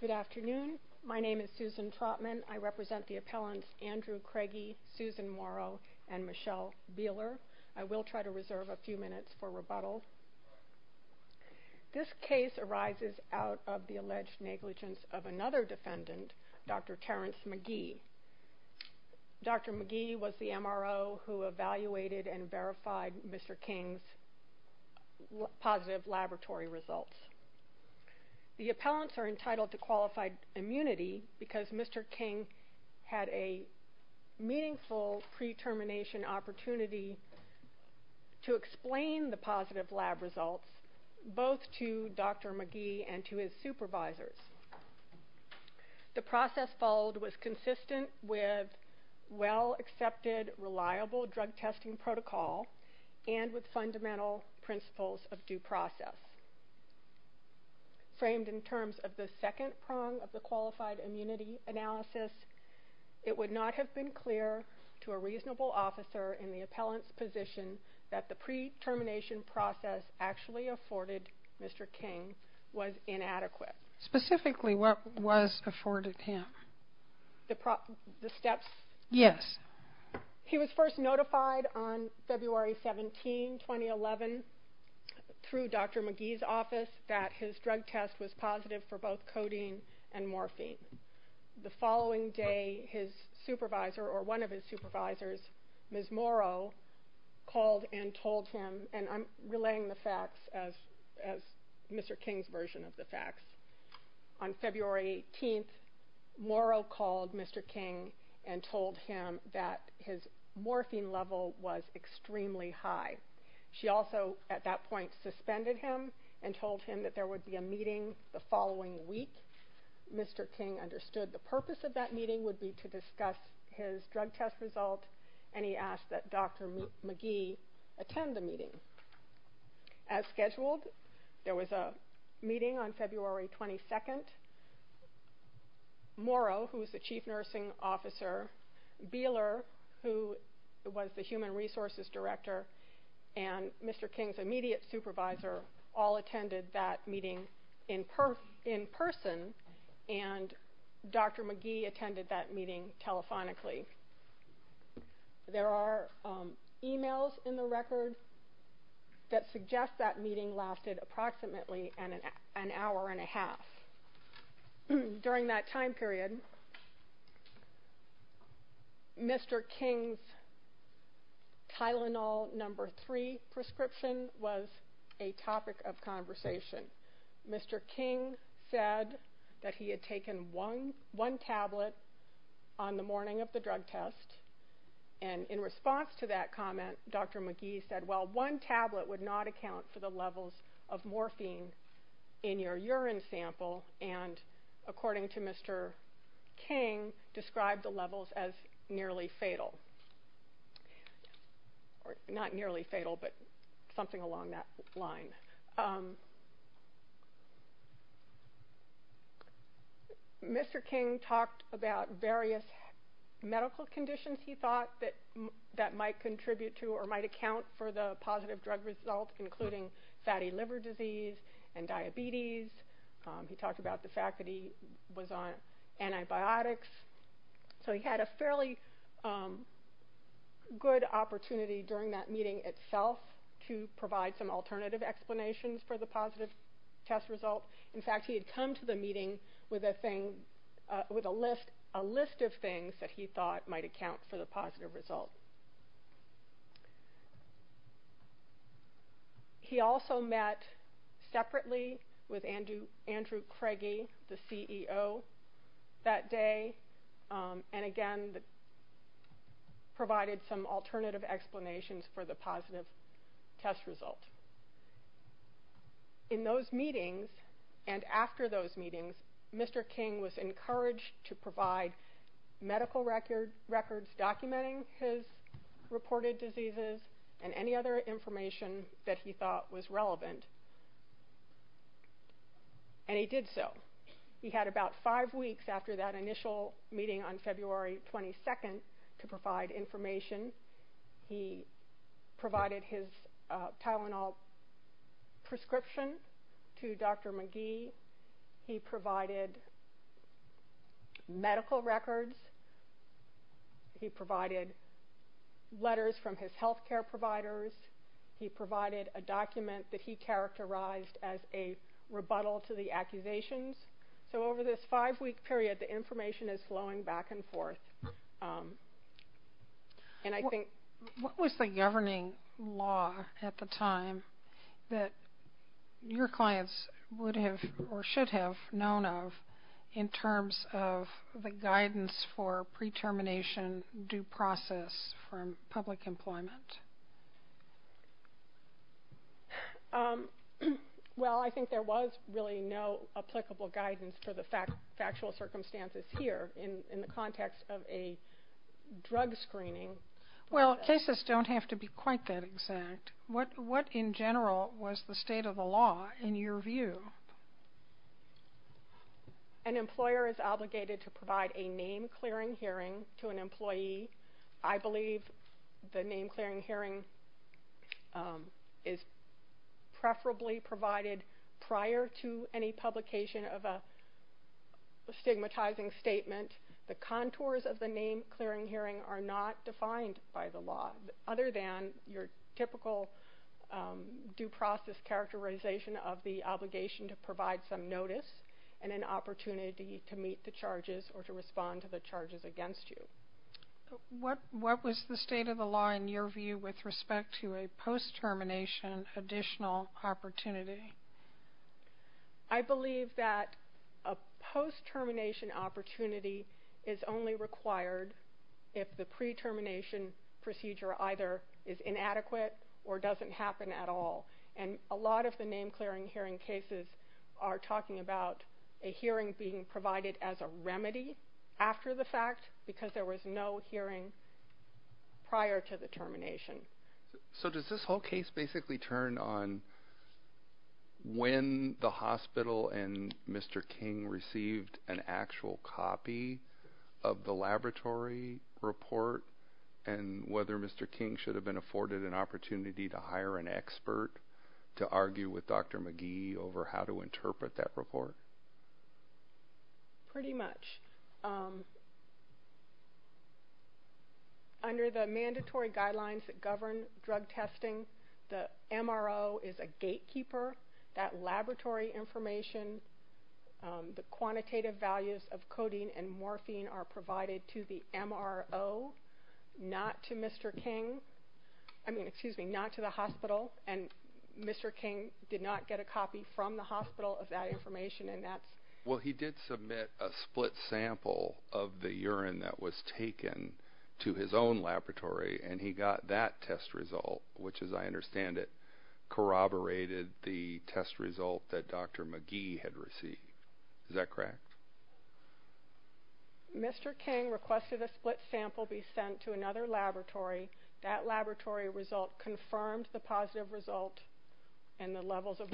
Good afternoon. My name is Susan Trautman. I represent the appellants Andrew Craigie, Susan Morrow, and Michelle Beeler. I will try to reserve a few minutes for rebuttal. This case arises out of the alleged negligence of another defendant, Dr. Terrence McGee. Dr. McGee was the MRO who evaluated and verified Mr. King's positive laboratory results. The appellants are entitled to qualified immunity because Mr. King had a meaningful pre-termination opportunity to explain the positive lab results both to Dr. McGee and to his supervisors. The process followed was consistent with well-accepted, reliable drug testing protocol and with fundamental principles of due process. Framed in terms of the second prong of the qualified immunity analysis, it would not have been clear to a reasonable officer in the appellant's position that the pre-termination process actually afforded Mr. King was inadequate. Specifically, what was afforded him? The steps? Yes. He was first notified on February 17, 2011 through Dr. McGee's office that his drug test was positive for both codeine and morphine. The following day, his supervisor or one of his supervisors, Ms. Morrow, called and told him, and I'm relaying the facts as Mr. King's version of the facts. On February 18, Morrow called Mr. King and told him that his morphine level was extremely high. She also at that point suspended him and told him that there would be a meeting the following week. Mr. King understood the purpose of that meeting would be to discuss his drug test result, and he asked that Dr. McGee attend the meeting. As scheduled, there was a meeting on February 22. Morrow, who was the chief nursing officer, Beeler, who was the human resources director, and Mr. King's immediate supervisor all attended that meeting in person, and Dr. McGee attended that meeting telephonically. There are emails in the record that suggest that meeting lasted approximately an hour and a half. During that time period, Mr. King's Tylenol No. 3 prescription was a topic of conversation. Mr. King said that he had taken one tablet on the morning of the drug test, and in response to that comment, Dr. McGee said, well, one tablet would not account for the levels of morphine in your urine sample, and according to Mr. King, described the levels as nearly fatal. Not nearly fatal, but something along that line. Mr. King talked about various medical conditions he thought that might contribute to or might account for the positive drug result, including fatty liver disease and diabetes. He talked about the fact that he was on antibiotics. So he had a fairly good opportunity during that meeting itself to provide some alternative explanations for the positive test result. In fact, he had come to the meeting with a list of things that he thought might account for the positive result. He also met separately with Andrew Craigie, the CEO, that day, and again provided some alternative explanations for the positive test result. In those meetings and after those meetings, Mr. King was encouraged to provide medical records documenting his reported diseases and any other information that he thought was relevant, and he did so. He had about five weeks after that initial meeting on February 22nd to provide information. He provided his Tylenol prescription to Dr. McGee. He provided medical records. He provided letters from his health care providers. He provided a document that he characterized as a rebuttal to the accusations. So over this five-week period, the information is flowing back and forth. What was the governing law at the time that your clients would have or should have known of in terms of the guidance for pre-termination due process from public employment? Well, I think there was really no applicable guidance for the factual circumstances here in the context of a drug screening. Well, cases don't have to be quite that exact. What in general was the state of the law in your view? An employer is obligated to provide a name-clearing hearing to an employee. I believe the name-clearing hearing is preferably provided prior to any publication of a stigmatizing statement. The contours of the name-clearing hearing are not defined by the law other than your typical due process characterization of the obligation to provide some notice and an opportunity to meet the charges or to respond to the charges against you. What was the state of the law in your view with respect to a post-termination additional opportunity? I believe that a post-termination opportunity is only required if the pre-termination procedure either is inadequate or doesn't happen at all. A lot of the name-clearing hearing cases are talking about a hearing being provided as a remedy after the fact because there was no hearing prior to the termination. So does this whole case basically turn on when the hospital and Mr. King received an actual copy of the laboratory report and whether Mr. King should have been afforded an opportunity to hire an expert to argue with Dr. McGee over how to interpret that report? Pretty much. Under the mandatory guidelines that govern drug testing, the MRO is a gatekeeper. That laboratory information, the quantitative values of codeine and morphine are provided to the MRO, not to Mr. King. I mean, excuse me, not to the hospital, and Mr. King did not get a copy from the hospital of that information. Well, he did submit a split sample of the urine that was taken to his own laboratory, and he got that test result, which, as I understand it, corroborated the test result that Dr. McGee had received. Is that correct? Mr. King requested a split sample be sent to another laboratory. That laboratory result confirmed the positive result and the levels of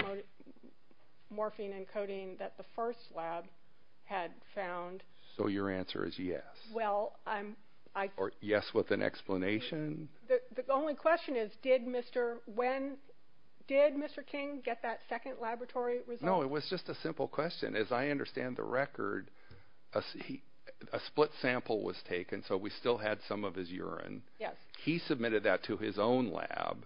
morphine and codeine that the first lab had found. So your answer is yes? Or yes with an explanation? The only question is, did Mr. King get that second laboratory result? No, it was just a simple question. As I understand the record, a split sample was taken, so we still had some of his urine. He submitted that to his own lab.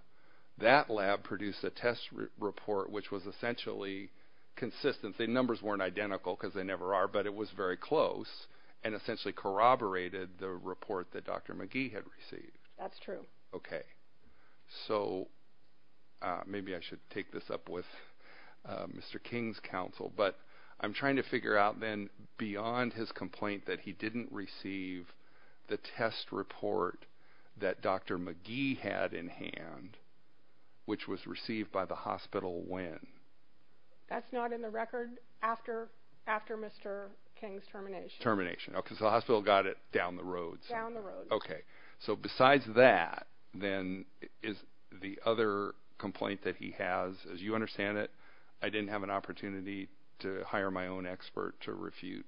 That lab produced a test report which was essentially consistent. The numbers weren't identical because they never are, but it was very close and essentially corroborated the report that Dr. McGee had received. That's true. Okay. So maybe I should take this up with Mr. King's counsel, but I'm trying to figure out then beyond his complaint that he didn't receive the test report that Dr. McGee had in hand, which was received by the hospital when? That's not in the record after Mr. King's termination. Termination. Okay, so the hospital got it down the road. Down the road. Okay. So besides that, then is the other complaint that he has, as you understand it, I didn't have an opportunity to hire my own expert to refute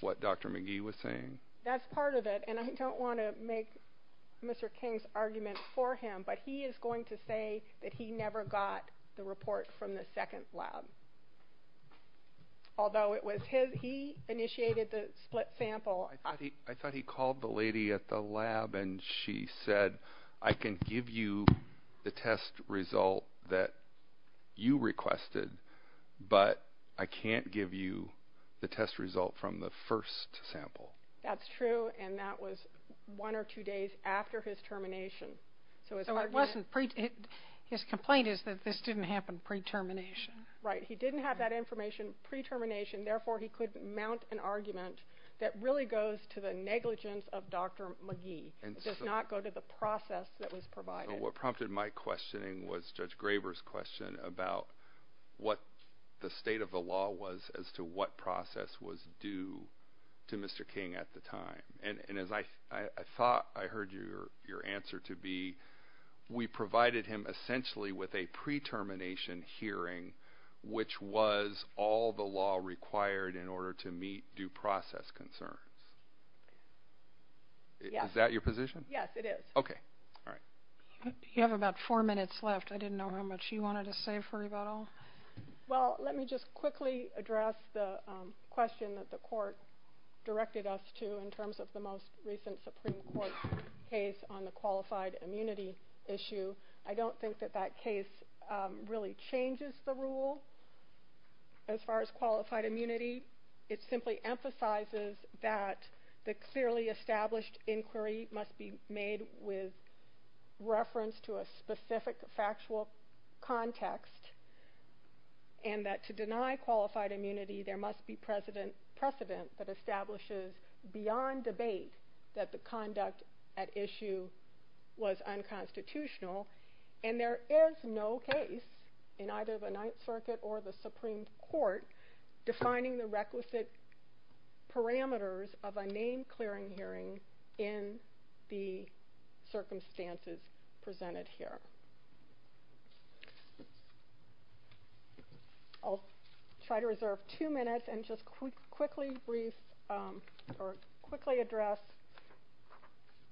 what Dr. McGee was saying? That's part of it, and I don't want to make Mr. King's argument for him, but he is going to say that he never got the report from the second lab. Although it was his, he initiated the split sample. I thought he called the lady at the lab and she said, I can give you the test result that you requested, but I can't give you the test result from the first sample. That's true, and that was one or two days after his termination. His complaint is that this didn't happen pre-termination. Right. He didn't have that information pre-termination, therefore he could mount an argument that really goes to the negligence of Dr. McGee. It does not go to the process that was provided. What prompted my questioning was Judge Graber's question about what the state of the law was as to what process was due to Mr. King at the time. And as I thought I heard your answer to be, we provided him essentially with a pre-termination hearing, which was all the law required in order to meet due process concerns. Is that your position? Yes, it is. Okay. All right. You have about four minutes left. I didn't know how much you wanted to say for about all. Well, let me just quickly address the question that the court directed us to in terms of the most recent Supreme Court case on the qualified immunity issue. I don't think that that case really changes the rule as far as qualified immunity. It simply emphasizes that the clearly established inquiry must be made with reference to a specific factual context and that to deny qualified immunity, there must be precedent that establishes beyond debate that the conduct at issue was unconstitutional. And there is no case in either the Ninth Circuit or the Supreme Court defining the requisite parameters of a name clearing hearing in the circumstances presented here. I'll try to reserve two minutes and just quickly address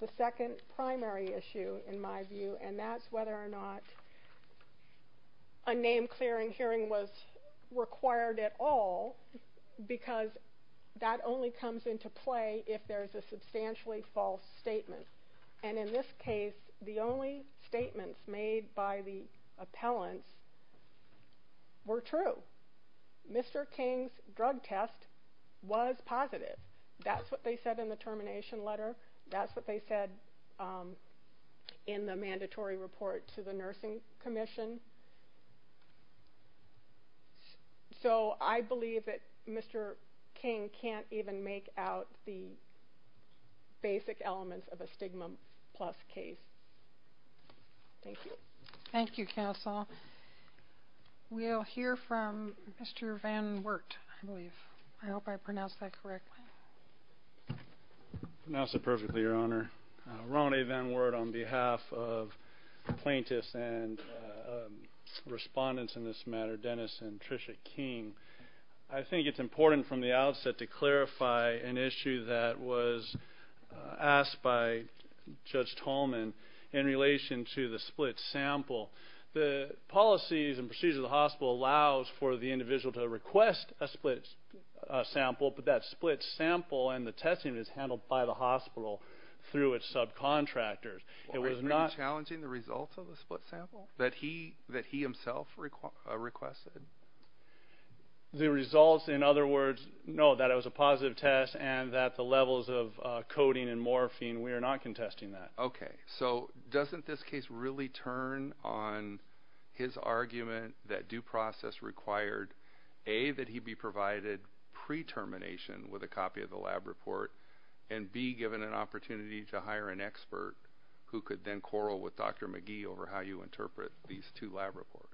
the second primary issue in my view, and that's whether or not a name clearing hearing was required at all because that only comes into play if there's a substantially false statement. And in this case, the only statements made by the appellants were true. Mr. King's drug test was positive. That's what they said in the termination letter. That's what they said in the mandatory report to the Nursing Commission. So I believe that Mr. King can't even make out the basic elements of a stigma plus case. Thank you. Thank you, counsel. We'll hear from Mr. Van Wert, I believe. I hope I pronounced that correctly. Pronounced it perfectly, Your Honor. Ron A. Van Wert on behalf of the plaintiffs and respondents in this matter, Dennis and Tricia King. I think it's important from the outset to clarify an issue that was asked by Judge Tolman in relation to the split sample. The policies and procedures of the hospital allows for the individual to request a split sample, but that split sample and the testing is handled by the hospital through its subcontractors. Was he challenging the results of the split sample that he himself requested? The results, in other words, no, that it was a positive test and that the levels of coding and morphine, we are not contesting that. Okay. So doesn't this case really turn on his argument that due process required, A, that he be provided pre-termination with a copy of the lab report, and, B, given an opportunity to hire an expert who could then quarrel with Dr. McGee over how you interpret these two lab reports?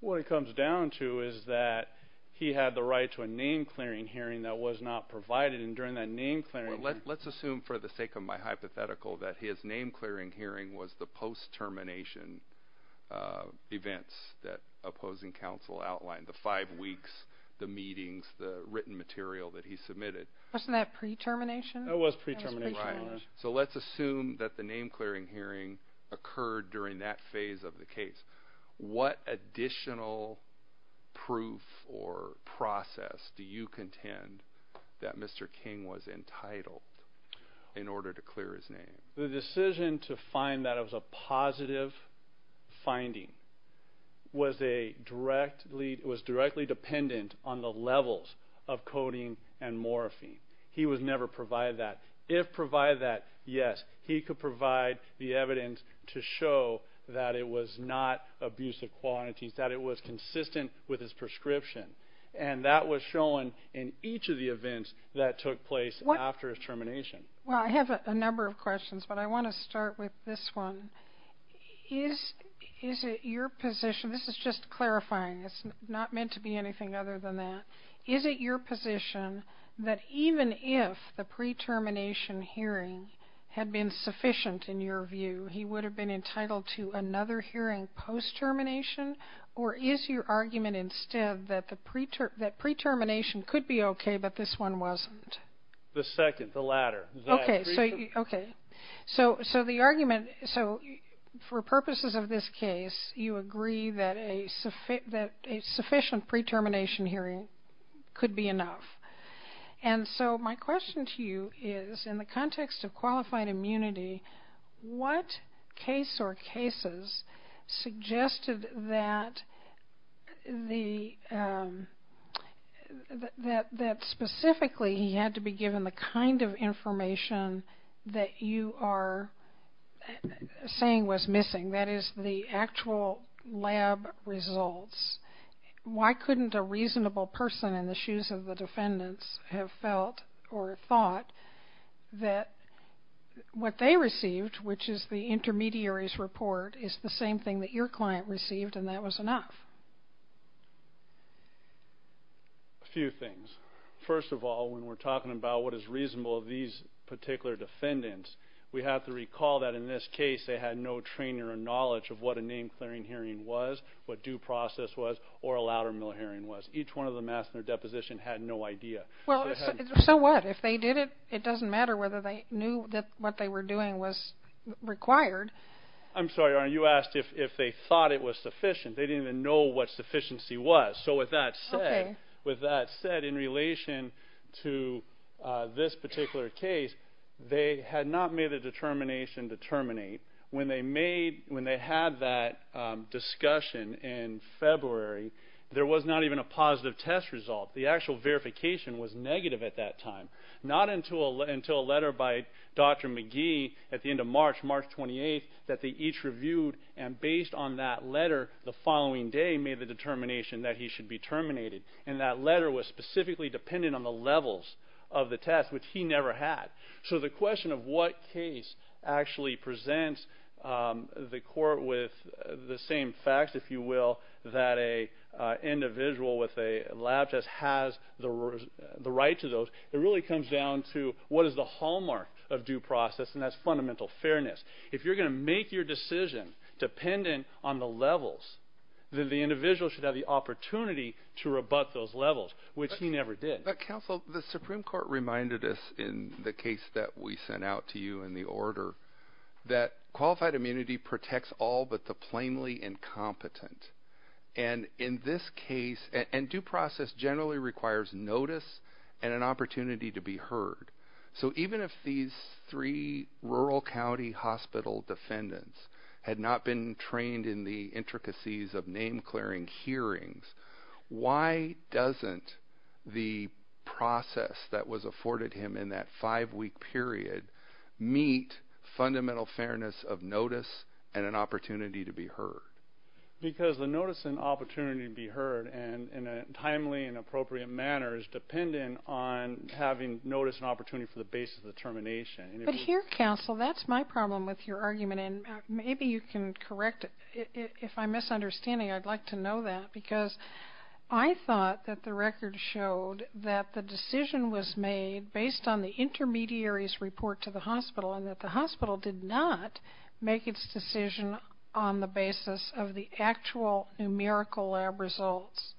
What it comes down to is that he had the right to a name-clearing hearing that was not provided, and during that name-clearing hearing. Let's assume for the sake of my hypothetical that his name-clearing hearing was the post-termination events that opposing counsel outlined, the five weeks, the meetings, the written material that he submitted. Wasn't that pre-termination? It was pre-termination. Right. So let's assume that the name-clearing hearing occurred during that phase of the case. What additional proof or process do you contend that Mr. King was entitled in order to clear his name? The decision to find that it was a positive finding was directly dependent on the levels of codeine and morphine. He was never provided that. If provided that, yes, he could provide the evidence to show that it was not abusive quantities, that it was consistent with his prescription, and that was shown in each of the events that took place after his termination. Well, I have a number of questions, but I want to start with this one. Is it your position, this is just clarifying, it's not meant to be anything other than that, is it your position that even if the pre-termination hearing had been sufficient in your view, he would have been entitled to another hearing post-termination, or is your argument instead that pre-termination could be okay but this one wasn't? The second, the latter. Okay, so the argument, so for purposes of this case, you agree that a sufficient pre-termination hearing could be enough. And so my question to you is in the context of qualified immunity, what case or cases suggested that specifically he had to be given the kind of information that you are saying was missing, that is the actual lab results? Why couldn't a reasonable person in the shoes of the defendants have felt or thought that what they received, which is the intermediary's report, is the same thing that your client received and that was enough? A few things. First of all, when we're talking about what is reasonable of these particular defendants, we have to recall that in this case they had no training or knowledge of what a name-clearing hearing was, what due process was, or a louder mill hearing was. Each one of them asked in their deposition had no idea. Well, so what? If they did it, it doesn't matter whether they knew that what they were doing was required. I'm sorry, Your Honor, you asked if they thought it was sufficient. They didn't even know what sufficiency was. So with that said, in relation to this particular case, they had not made a determination to terminate. When they had that discussion in February, there was not even a positive test result. The actual verification was negative at that time, not until a letter by Dr. McGee at the end of March, March 28th, that they each reviewed, and based on that letter the following day made the determination that he should be terminated. And that letter was specifically dependent on the levels of the test, which he never had. So the question of what case actually presents the court with the same facts, if you will, that an individual with a lab test has the right to those, it really comes down to what is the hallmark of due process, and that's fundamental fairness. If you're going to make your decision dependent on the levels, then the individual should have the opportunity to rebut those levels, which he never did. But, counsel, the Supreme Court reminded us in the case that we sent out to you in the order that qualified immunity protects all but the plainly incompetent. And in this case, and due process generally requires notice and an opportunity to be heard. So even if these three rural county hospital defendants had not been trained in the intricacies of name-clearing hearings, why doesn't the process that was afforded him in that five-week period meet fundamental fairness of notice and an opportunity to be heard? Because the notice and opportunity to be heard in a timely and appropriate manner is dependent on having notice and opportunity for the basis of determination. But here, counsel, that's my problem with your argument, and maybe you can correct it. If I'm misunderstanding, I'd like to know that, because I thought that the record showed that the decision was made based on the intermediary's report to the hospital and that the hospital did not make its decision on the basis of the actual numerical lab results.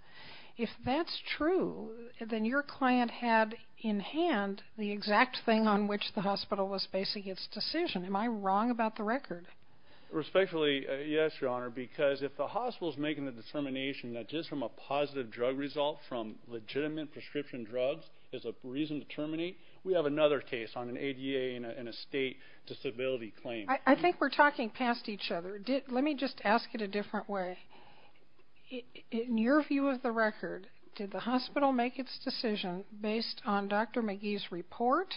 If that's true, then your client had in hand the exact thing on which the hospital was basing its decision. Am I wrong about the record? Respectfully, yes, Your Honor, because if the hospital is making the determination that just from a positive drug result from legitimate prescription drugs is a reason to terminate, we have another case on an ADA and a state disability claim. I think we're talking past each other. Let me just ask it a different way. In your view of the record, did the hospital make its decision based on Dr. Magee's report,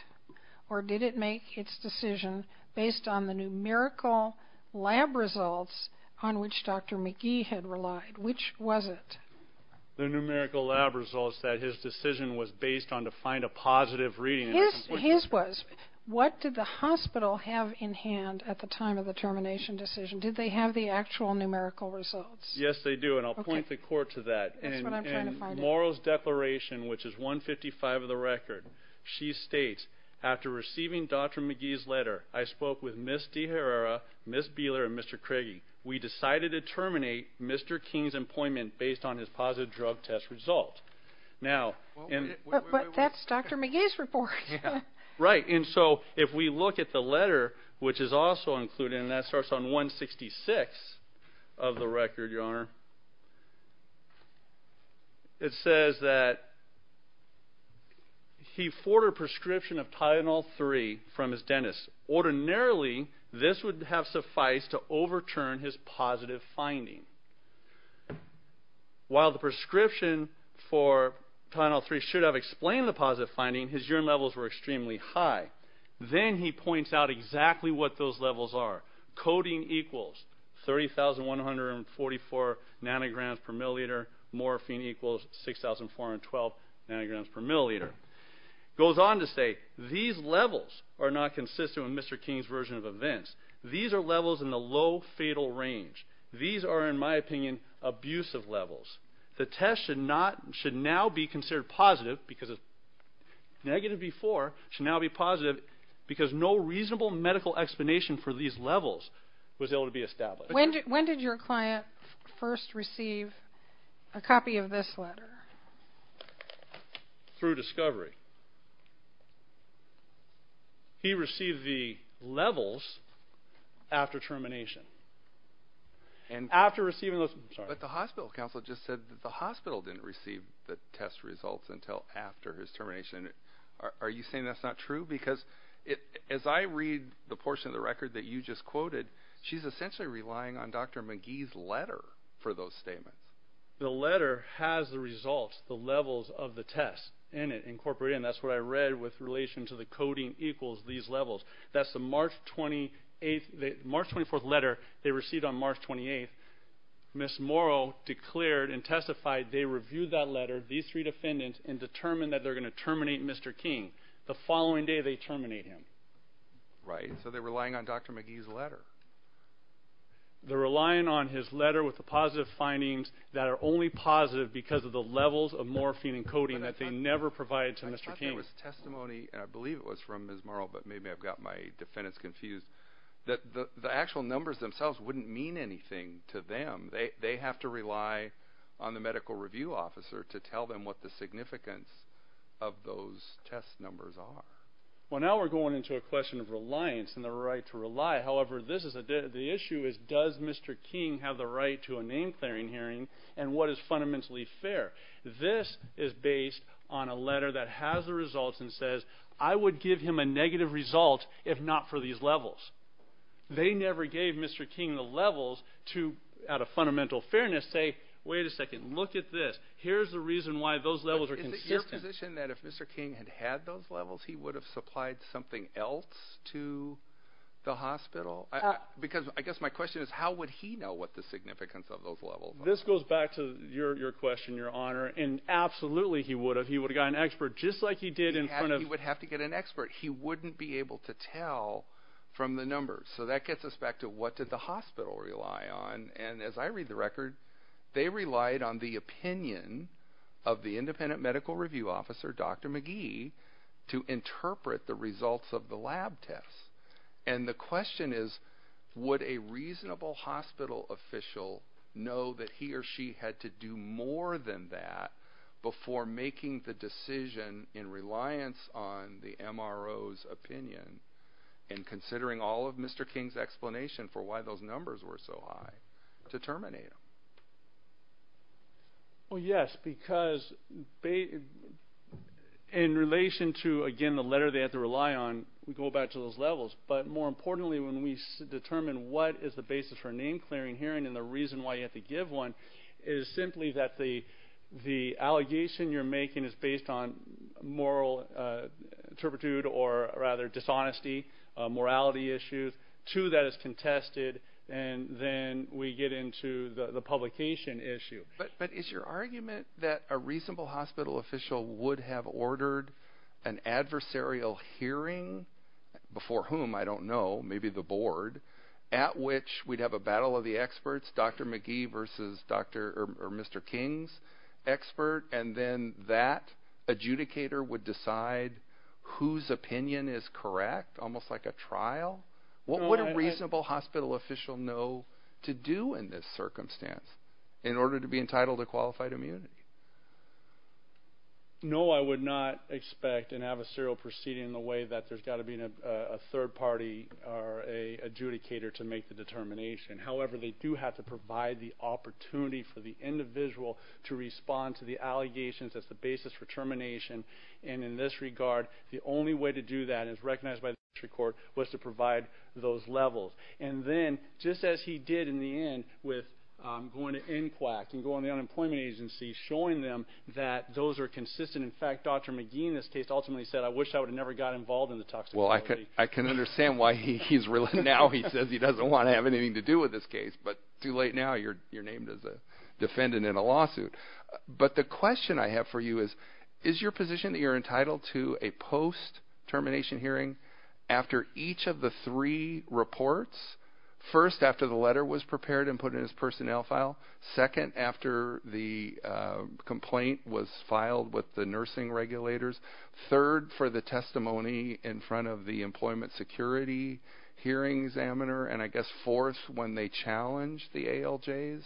or did it make its decision based on the numerical lab results on which Dr. Magee had relied? Which was it? The numerical lab results that his decision was based on to find a positive reading. His was. What did the hospital have in hand at the time of the termination decision? Did they have the actual numerical results? Yes, they do, and I'll point the court to that. That's what I'm trying to find out. In Ms. Morrow's declaration, which is 155 of the record, she states, after receiving Dr. Magee's letter, I spoke with Ms. De Herrera, Ms. Beeler, and Mr. Craigie. We decided to terminate Mr. King's employment based on his positive drug test result. But that's Dr. Magee's report. Right, and so if we look at the letter, which is also included, and that starts on 166 of the record, Your Honor, it says that he forwarded a prescription of Tylenol-3 from his dentist. Ordinarily, this would have sufficed to overturn his positive finding. While the prescription for Tylenol-3 should have explained the positive finding, his urine levels were extremely high. Then he points out exactly what those levels are. Coding equals 30,144 nanograms per milliliter. Morphine equals 6,412 nanograms per milliliter. Goes on to say, these levels are not consistent with Mr. King's version of events. These are levels in the low fatal range. These are, in my opinion, abusive levels. The test should now be considered positive because it's negative B4, should now be positive because no reasonable medical explanation for these levels was able to be established. When did your client first receive a copy of this letter? Through discovery. He received the levels after termination. But the hospital counsel just said that the hospital didn't receive the test results until after his termination. Are you saying that's not true? Because as I read the portion of the record that you just quoted, she's essentially relying on Dr. McGee's letter for those statements. The letter has the results, the levels of the test in it incorporated, and that's what I read with relation to the coding equals these levels. That's the March 24th letter they received on March 28th. Ms. Morrow declared and testified they reviewed that letter, these three defendants, and determined that they're going to terminate Mr. King the following day they terminate him. Right, so they're relying on Dr. McGee's letter. They're relying on his letter with the positive findings that are only positive because of the levels of morphine and coding that they never provided to Mr. King. I thought there was testimony, and I believe it was from Ms. Morrow, but maybe I've got my defendants confused, that the actual numbers themselves wouldn't mean anything to them. They have to rely on the medical review officer to tell them what the significance of those test numbers are. Well, now we're going into a question of reliance and the right to rely. However, the issue is does Mr. King have the right to a name-clearing hearing, and what is fundamentally fair? This is based on a letter that has the results and says, I would give him a negative result if not for these levels. They never gave Mr. King the levels to, out of fundamental fairness, say, wait a second, look at this. Here's the reason why those levels are consistent. Is it your position that if Mr. King had had those levels he would have supplied something else to the hospital? Because I guess my question is how would he know what the significance of those levels are? This goes back to your question, Your Honor, and absolutely he would have. He would have got an expert just like he did in front of- He would have to get an expert. He wouldn't be able to tell from the numbers. So that gets us back to what did the hospital rely on? And as I read the record, they relied on the opinion of the independent medical review officer, Dr. McGee, to interpret the results of the lab tests. And the question is would a reasonable hospital official know that he or she had to do more than that before making the decision in reliance on the MRO's opinion and considering all of Mr. King's explanation for why those numbers were so high to terminate him? Well, yes, because in relation to, again, the letter they have to rely on, we go back to those levels. But more importantly, when we determine what is the basis for a name-clearing hearing and the reason why you have to give one is simply that the allegation you're making is based on moral turpitude or rather dishonesty, morality issues. Two of that is contested, and then we get into the publication issue. But is your argument that a reasonable hospital official would have ordered an adversarial hearing, before whom I don't know, maybe the board, at which we'd have a battle of the experts, Dr. McGee versus Dr. or Mr. King's expert, and then that adjudicator would decide whose opinion is correct, almost like a trial? What would a reasonable hospital official know to do in this circumstance in order to be entitled to qualified immunity? No, I would not expect an adversarial proceeding in the way that there's got to be a third party or an adjudicator to make the determination. However, they do have to provide the opportunity for the individual to respond to the allegations as the basis for termination. And in this regard, the only way to do that, as recognized by the district court, was to provide those levels. And then, just as he did in the end with going to NCWAC and going to the unemployment agency, showing them that those are consistent. In fact, Dr. McGee in this case ultimately said, I wish I would have never got involved in the toxicity. Well, I can understand why now he says he doesn't want to have anything to do with this case. But too late now, you're named as a defendant in a lawsuit. But the question I have for you is, is your position that you're entitled to a post-termination hearing after each of the three reports? First, after the letter was prepared and put in his personnel file. Second, after the complaint was filed with the nursing regulators. Third, for the testimony in front of the employment security hearing examiner. And I guess fourth, when they challenged the ALJ's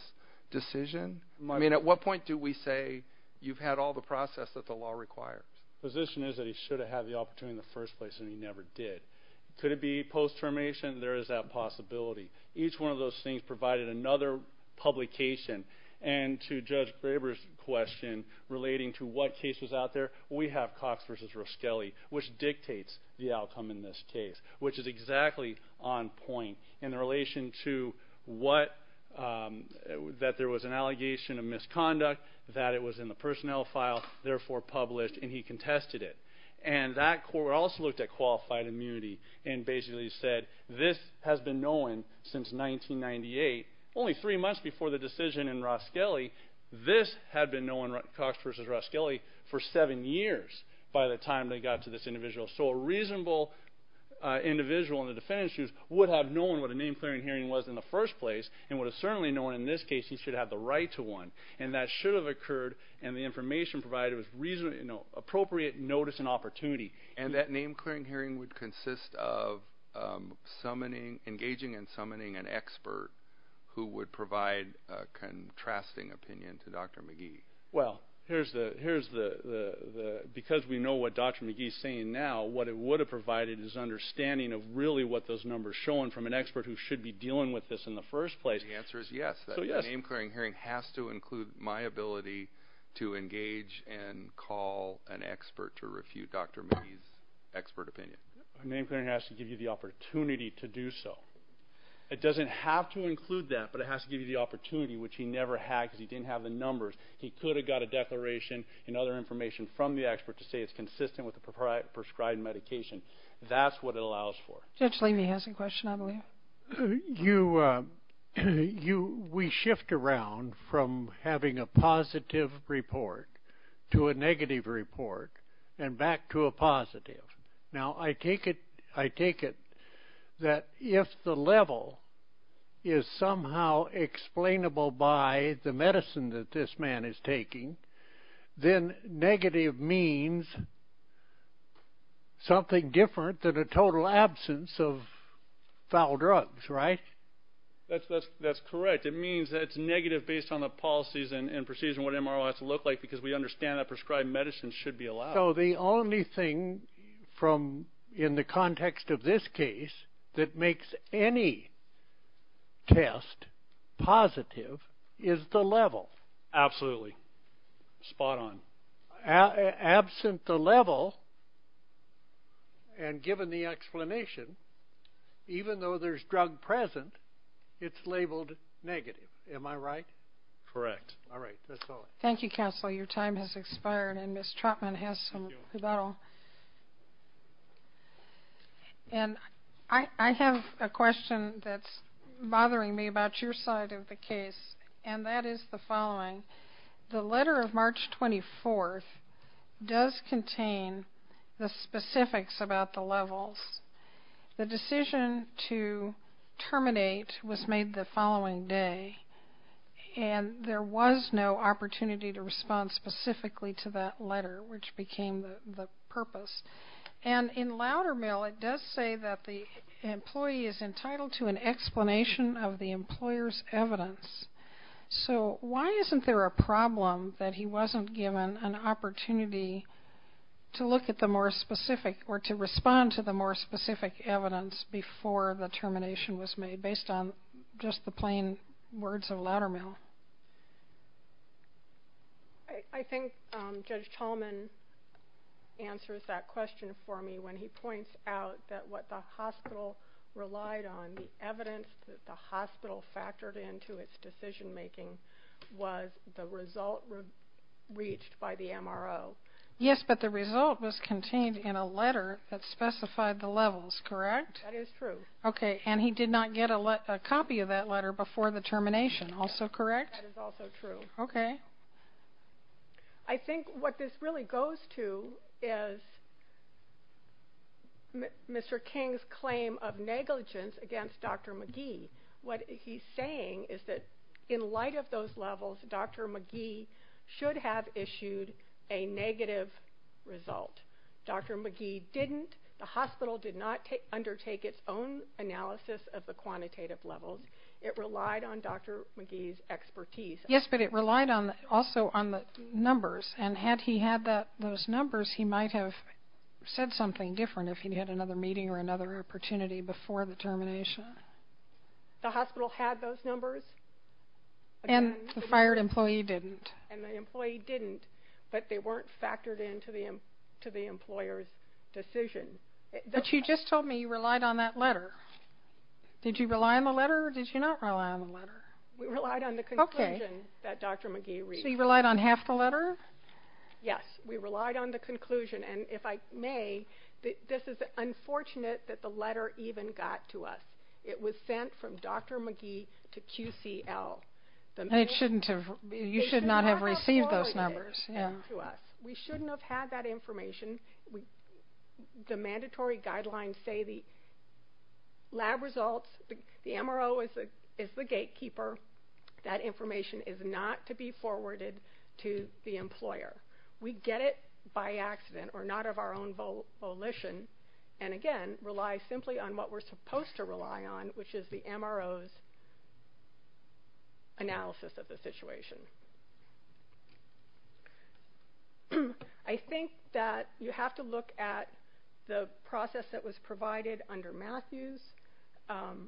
decision. I mean, at what point do we say you've had all the process that the law requires? The position is that he should have had the opportunity in the first place, and he never did. Could it be post-termination? There is that possibility. Each one of those things provided another publication. And to Judge Graber's question, relating to what case was out there, we have Cox v. Roskelly, which dictates the outcome in this case. Which is exactly on point in relation to what, that there was an allegation of misconduct, that it was in the personnel file, therefore published, and he contested it. And that court also looked at qualified immunity and basically said, this has been known since 1998, only three months before the decision in Roskelly, this had been known, Cox v. Roskelly, for seven years by the time they got to this individual. So a reasonable individual in the defendant's shoes would have known what a name-clearing hearing was in the first place, and would have certainly known in this case he should have the right to one. And that should have occurred, and the information provided was appropriate notice and opportunity. And that name-clearing hearing would consist of engaging and summoning an expert who would provide a contrasting opinion to Dr. McGee. Well, here's the, because we know what Dr. McGee is saying now, what it would have provided is understanding of really what those numbers show, and from an expert who should be dealing with this in the first place. The answer is yes. The name-clearing hearing has to include my ability to engage and call an expert to refute Dr. McGee's expert opinion. A name-clearing hearing has to give you the opportunity to do so. It doesn't have to include that, but it has to give you the opportunity, which he never had because he didn't have the numbers. He could have got a declaration and other information from the expert to say it's consistent with the prescribed medication. That's what it allows for. Judge Levy has a question, I believe. We shift around from having a positive report to a negative report and back to a positive. Now, I take it that if the level is somehow explainable by the medicine that this man is taking, then negative means something different than a total absence of foul drugs, right? That's correct. It means that it's negative based on the policies and procedures and what MRO has to look like because we understand that prescribed medicine should be allowed. So the only thing in the context of this case that makes any test positive is the level. Absolutely. Spot on. Absent the level and given the explanation, even though there's drug present, it's labeled negative. Am I right? Correct. All right. That's all. Thank you, counsel. Your time has expired and Ms. Trotman has some rebuttal. And I have a question that's bothering me about your side of the case, and that is the following. The letter of March 24th does contain the specifics about the levels. The decision to terminate was made the following day, and there was no opportunity to respond specifically to that letter, which became the purpose. And in louder mail, it does say that the employee is entitled to an explanation of the employer's evidence. So why isn't there a problem that he wasn't given an opportunity to look at the more specific or to respond to the more specific evidence before the termination was made, based on just the plain words of louder mail? I think Judge Tolman answers that question for me when he points out that what the hospital relied on, the evidence that the hospital factored into its decision making, was the result reached by the MRO. Yes, but the result was contained in a letter that specified the levels, correct? That is true. Okay, and he did not get a copy of that letter before the termination, also correct? That is also true. Okay. I think what this really goes to is Mr. King's claim of negligence against Dr. McGee. What he's saying is that in light of those levels, Dr. McGee should have issued a negative result. Dr. McGee didn't. The hospital did not undertake its own analysis of the quantitative levels. It relied on Dr. McGee's expertise. Yes, but it relied also on the numbers, and had he had those numbers, he might have said something different if he had another meeting or another opportunity before the termination. The hospital had those numbers. And the fired employee didn't. And the employee didn't, but they weren't factored into the employer's decision. But you just told me you relied on that letter. Did you rely on the letter or did you not rely on the letter? We relied on the conclusion that Dr. McGee reached. So you relied on half the letter? Yes, we relied on the conclusion. And if I may, this is unfortunate that the letter even got to us. It was sent from Dr. McGee to QCL. You should not have received those numbers. We shouldn't have had that information. The mandatory guidelines say the lab results, the MRO is the gatekeeper. That information is not to be forwarded to the employer. We get it by accident or not of our own volition and, again, relies simply on what we're supposed to rely on, which is the MRO's analysis of the situation. I think that you have to look at the process that was provided under Matthews. And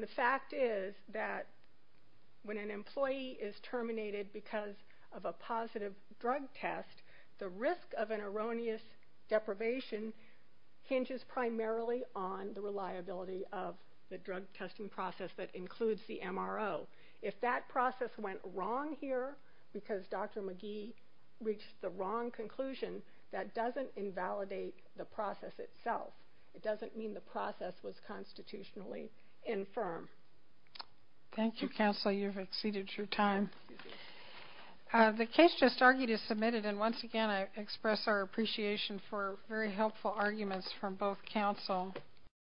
the fact is that when an employee is terminated because of a positive drug test, the risk of an erroneous deprivation hinges primarily on the reliability of the drug testing process that includes the MRO. If that process went wrong here because Dr. McGee reached the wrong conclusion, that doesn't invalidate the process itself. It doesn't mean the process was constitutionally infirm. Thank you, Counsel. You've exceeded your time. The case just argued is submitted, and, once again, I want to express our appreciation for very helpful arguments from both counsel.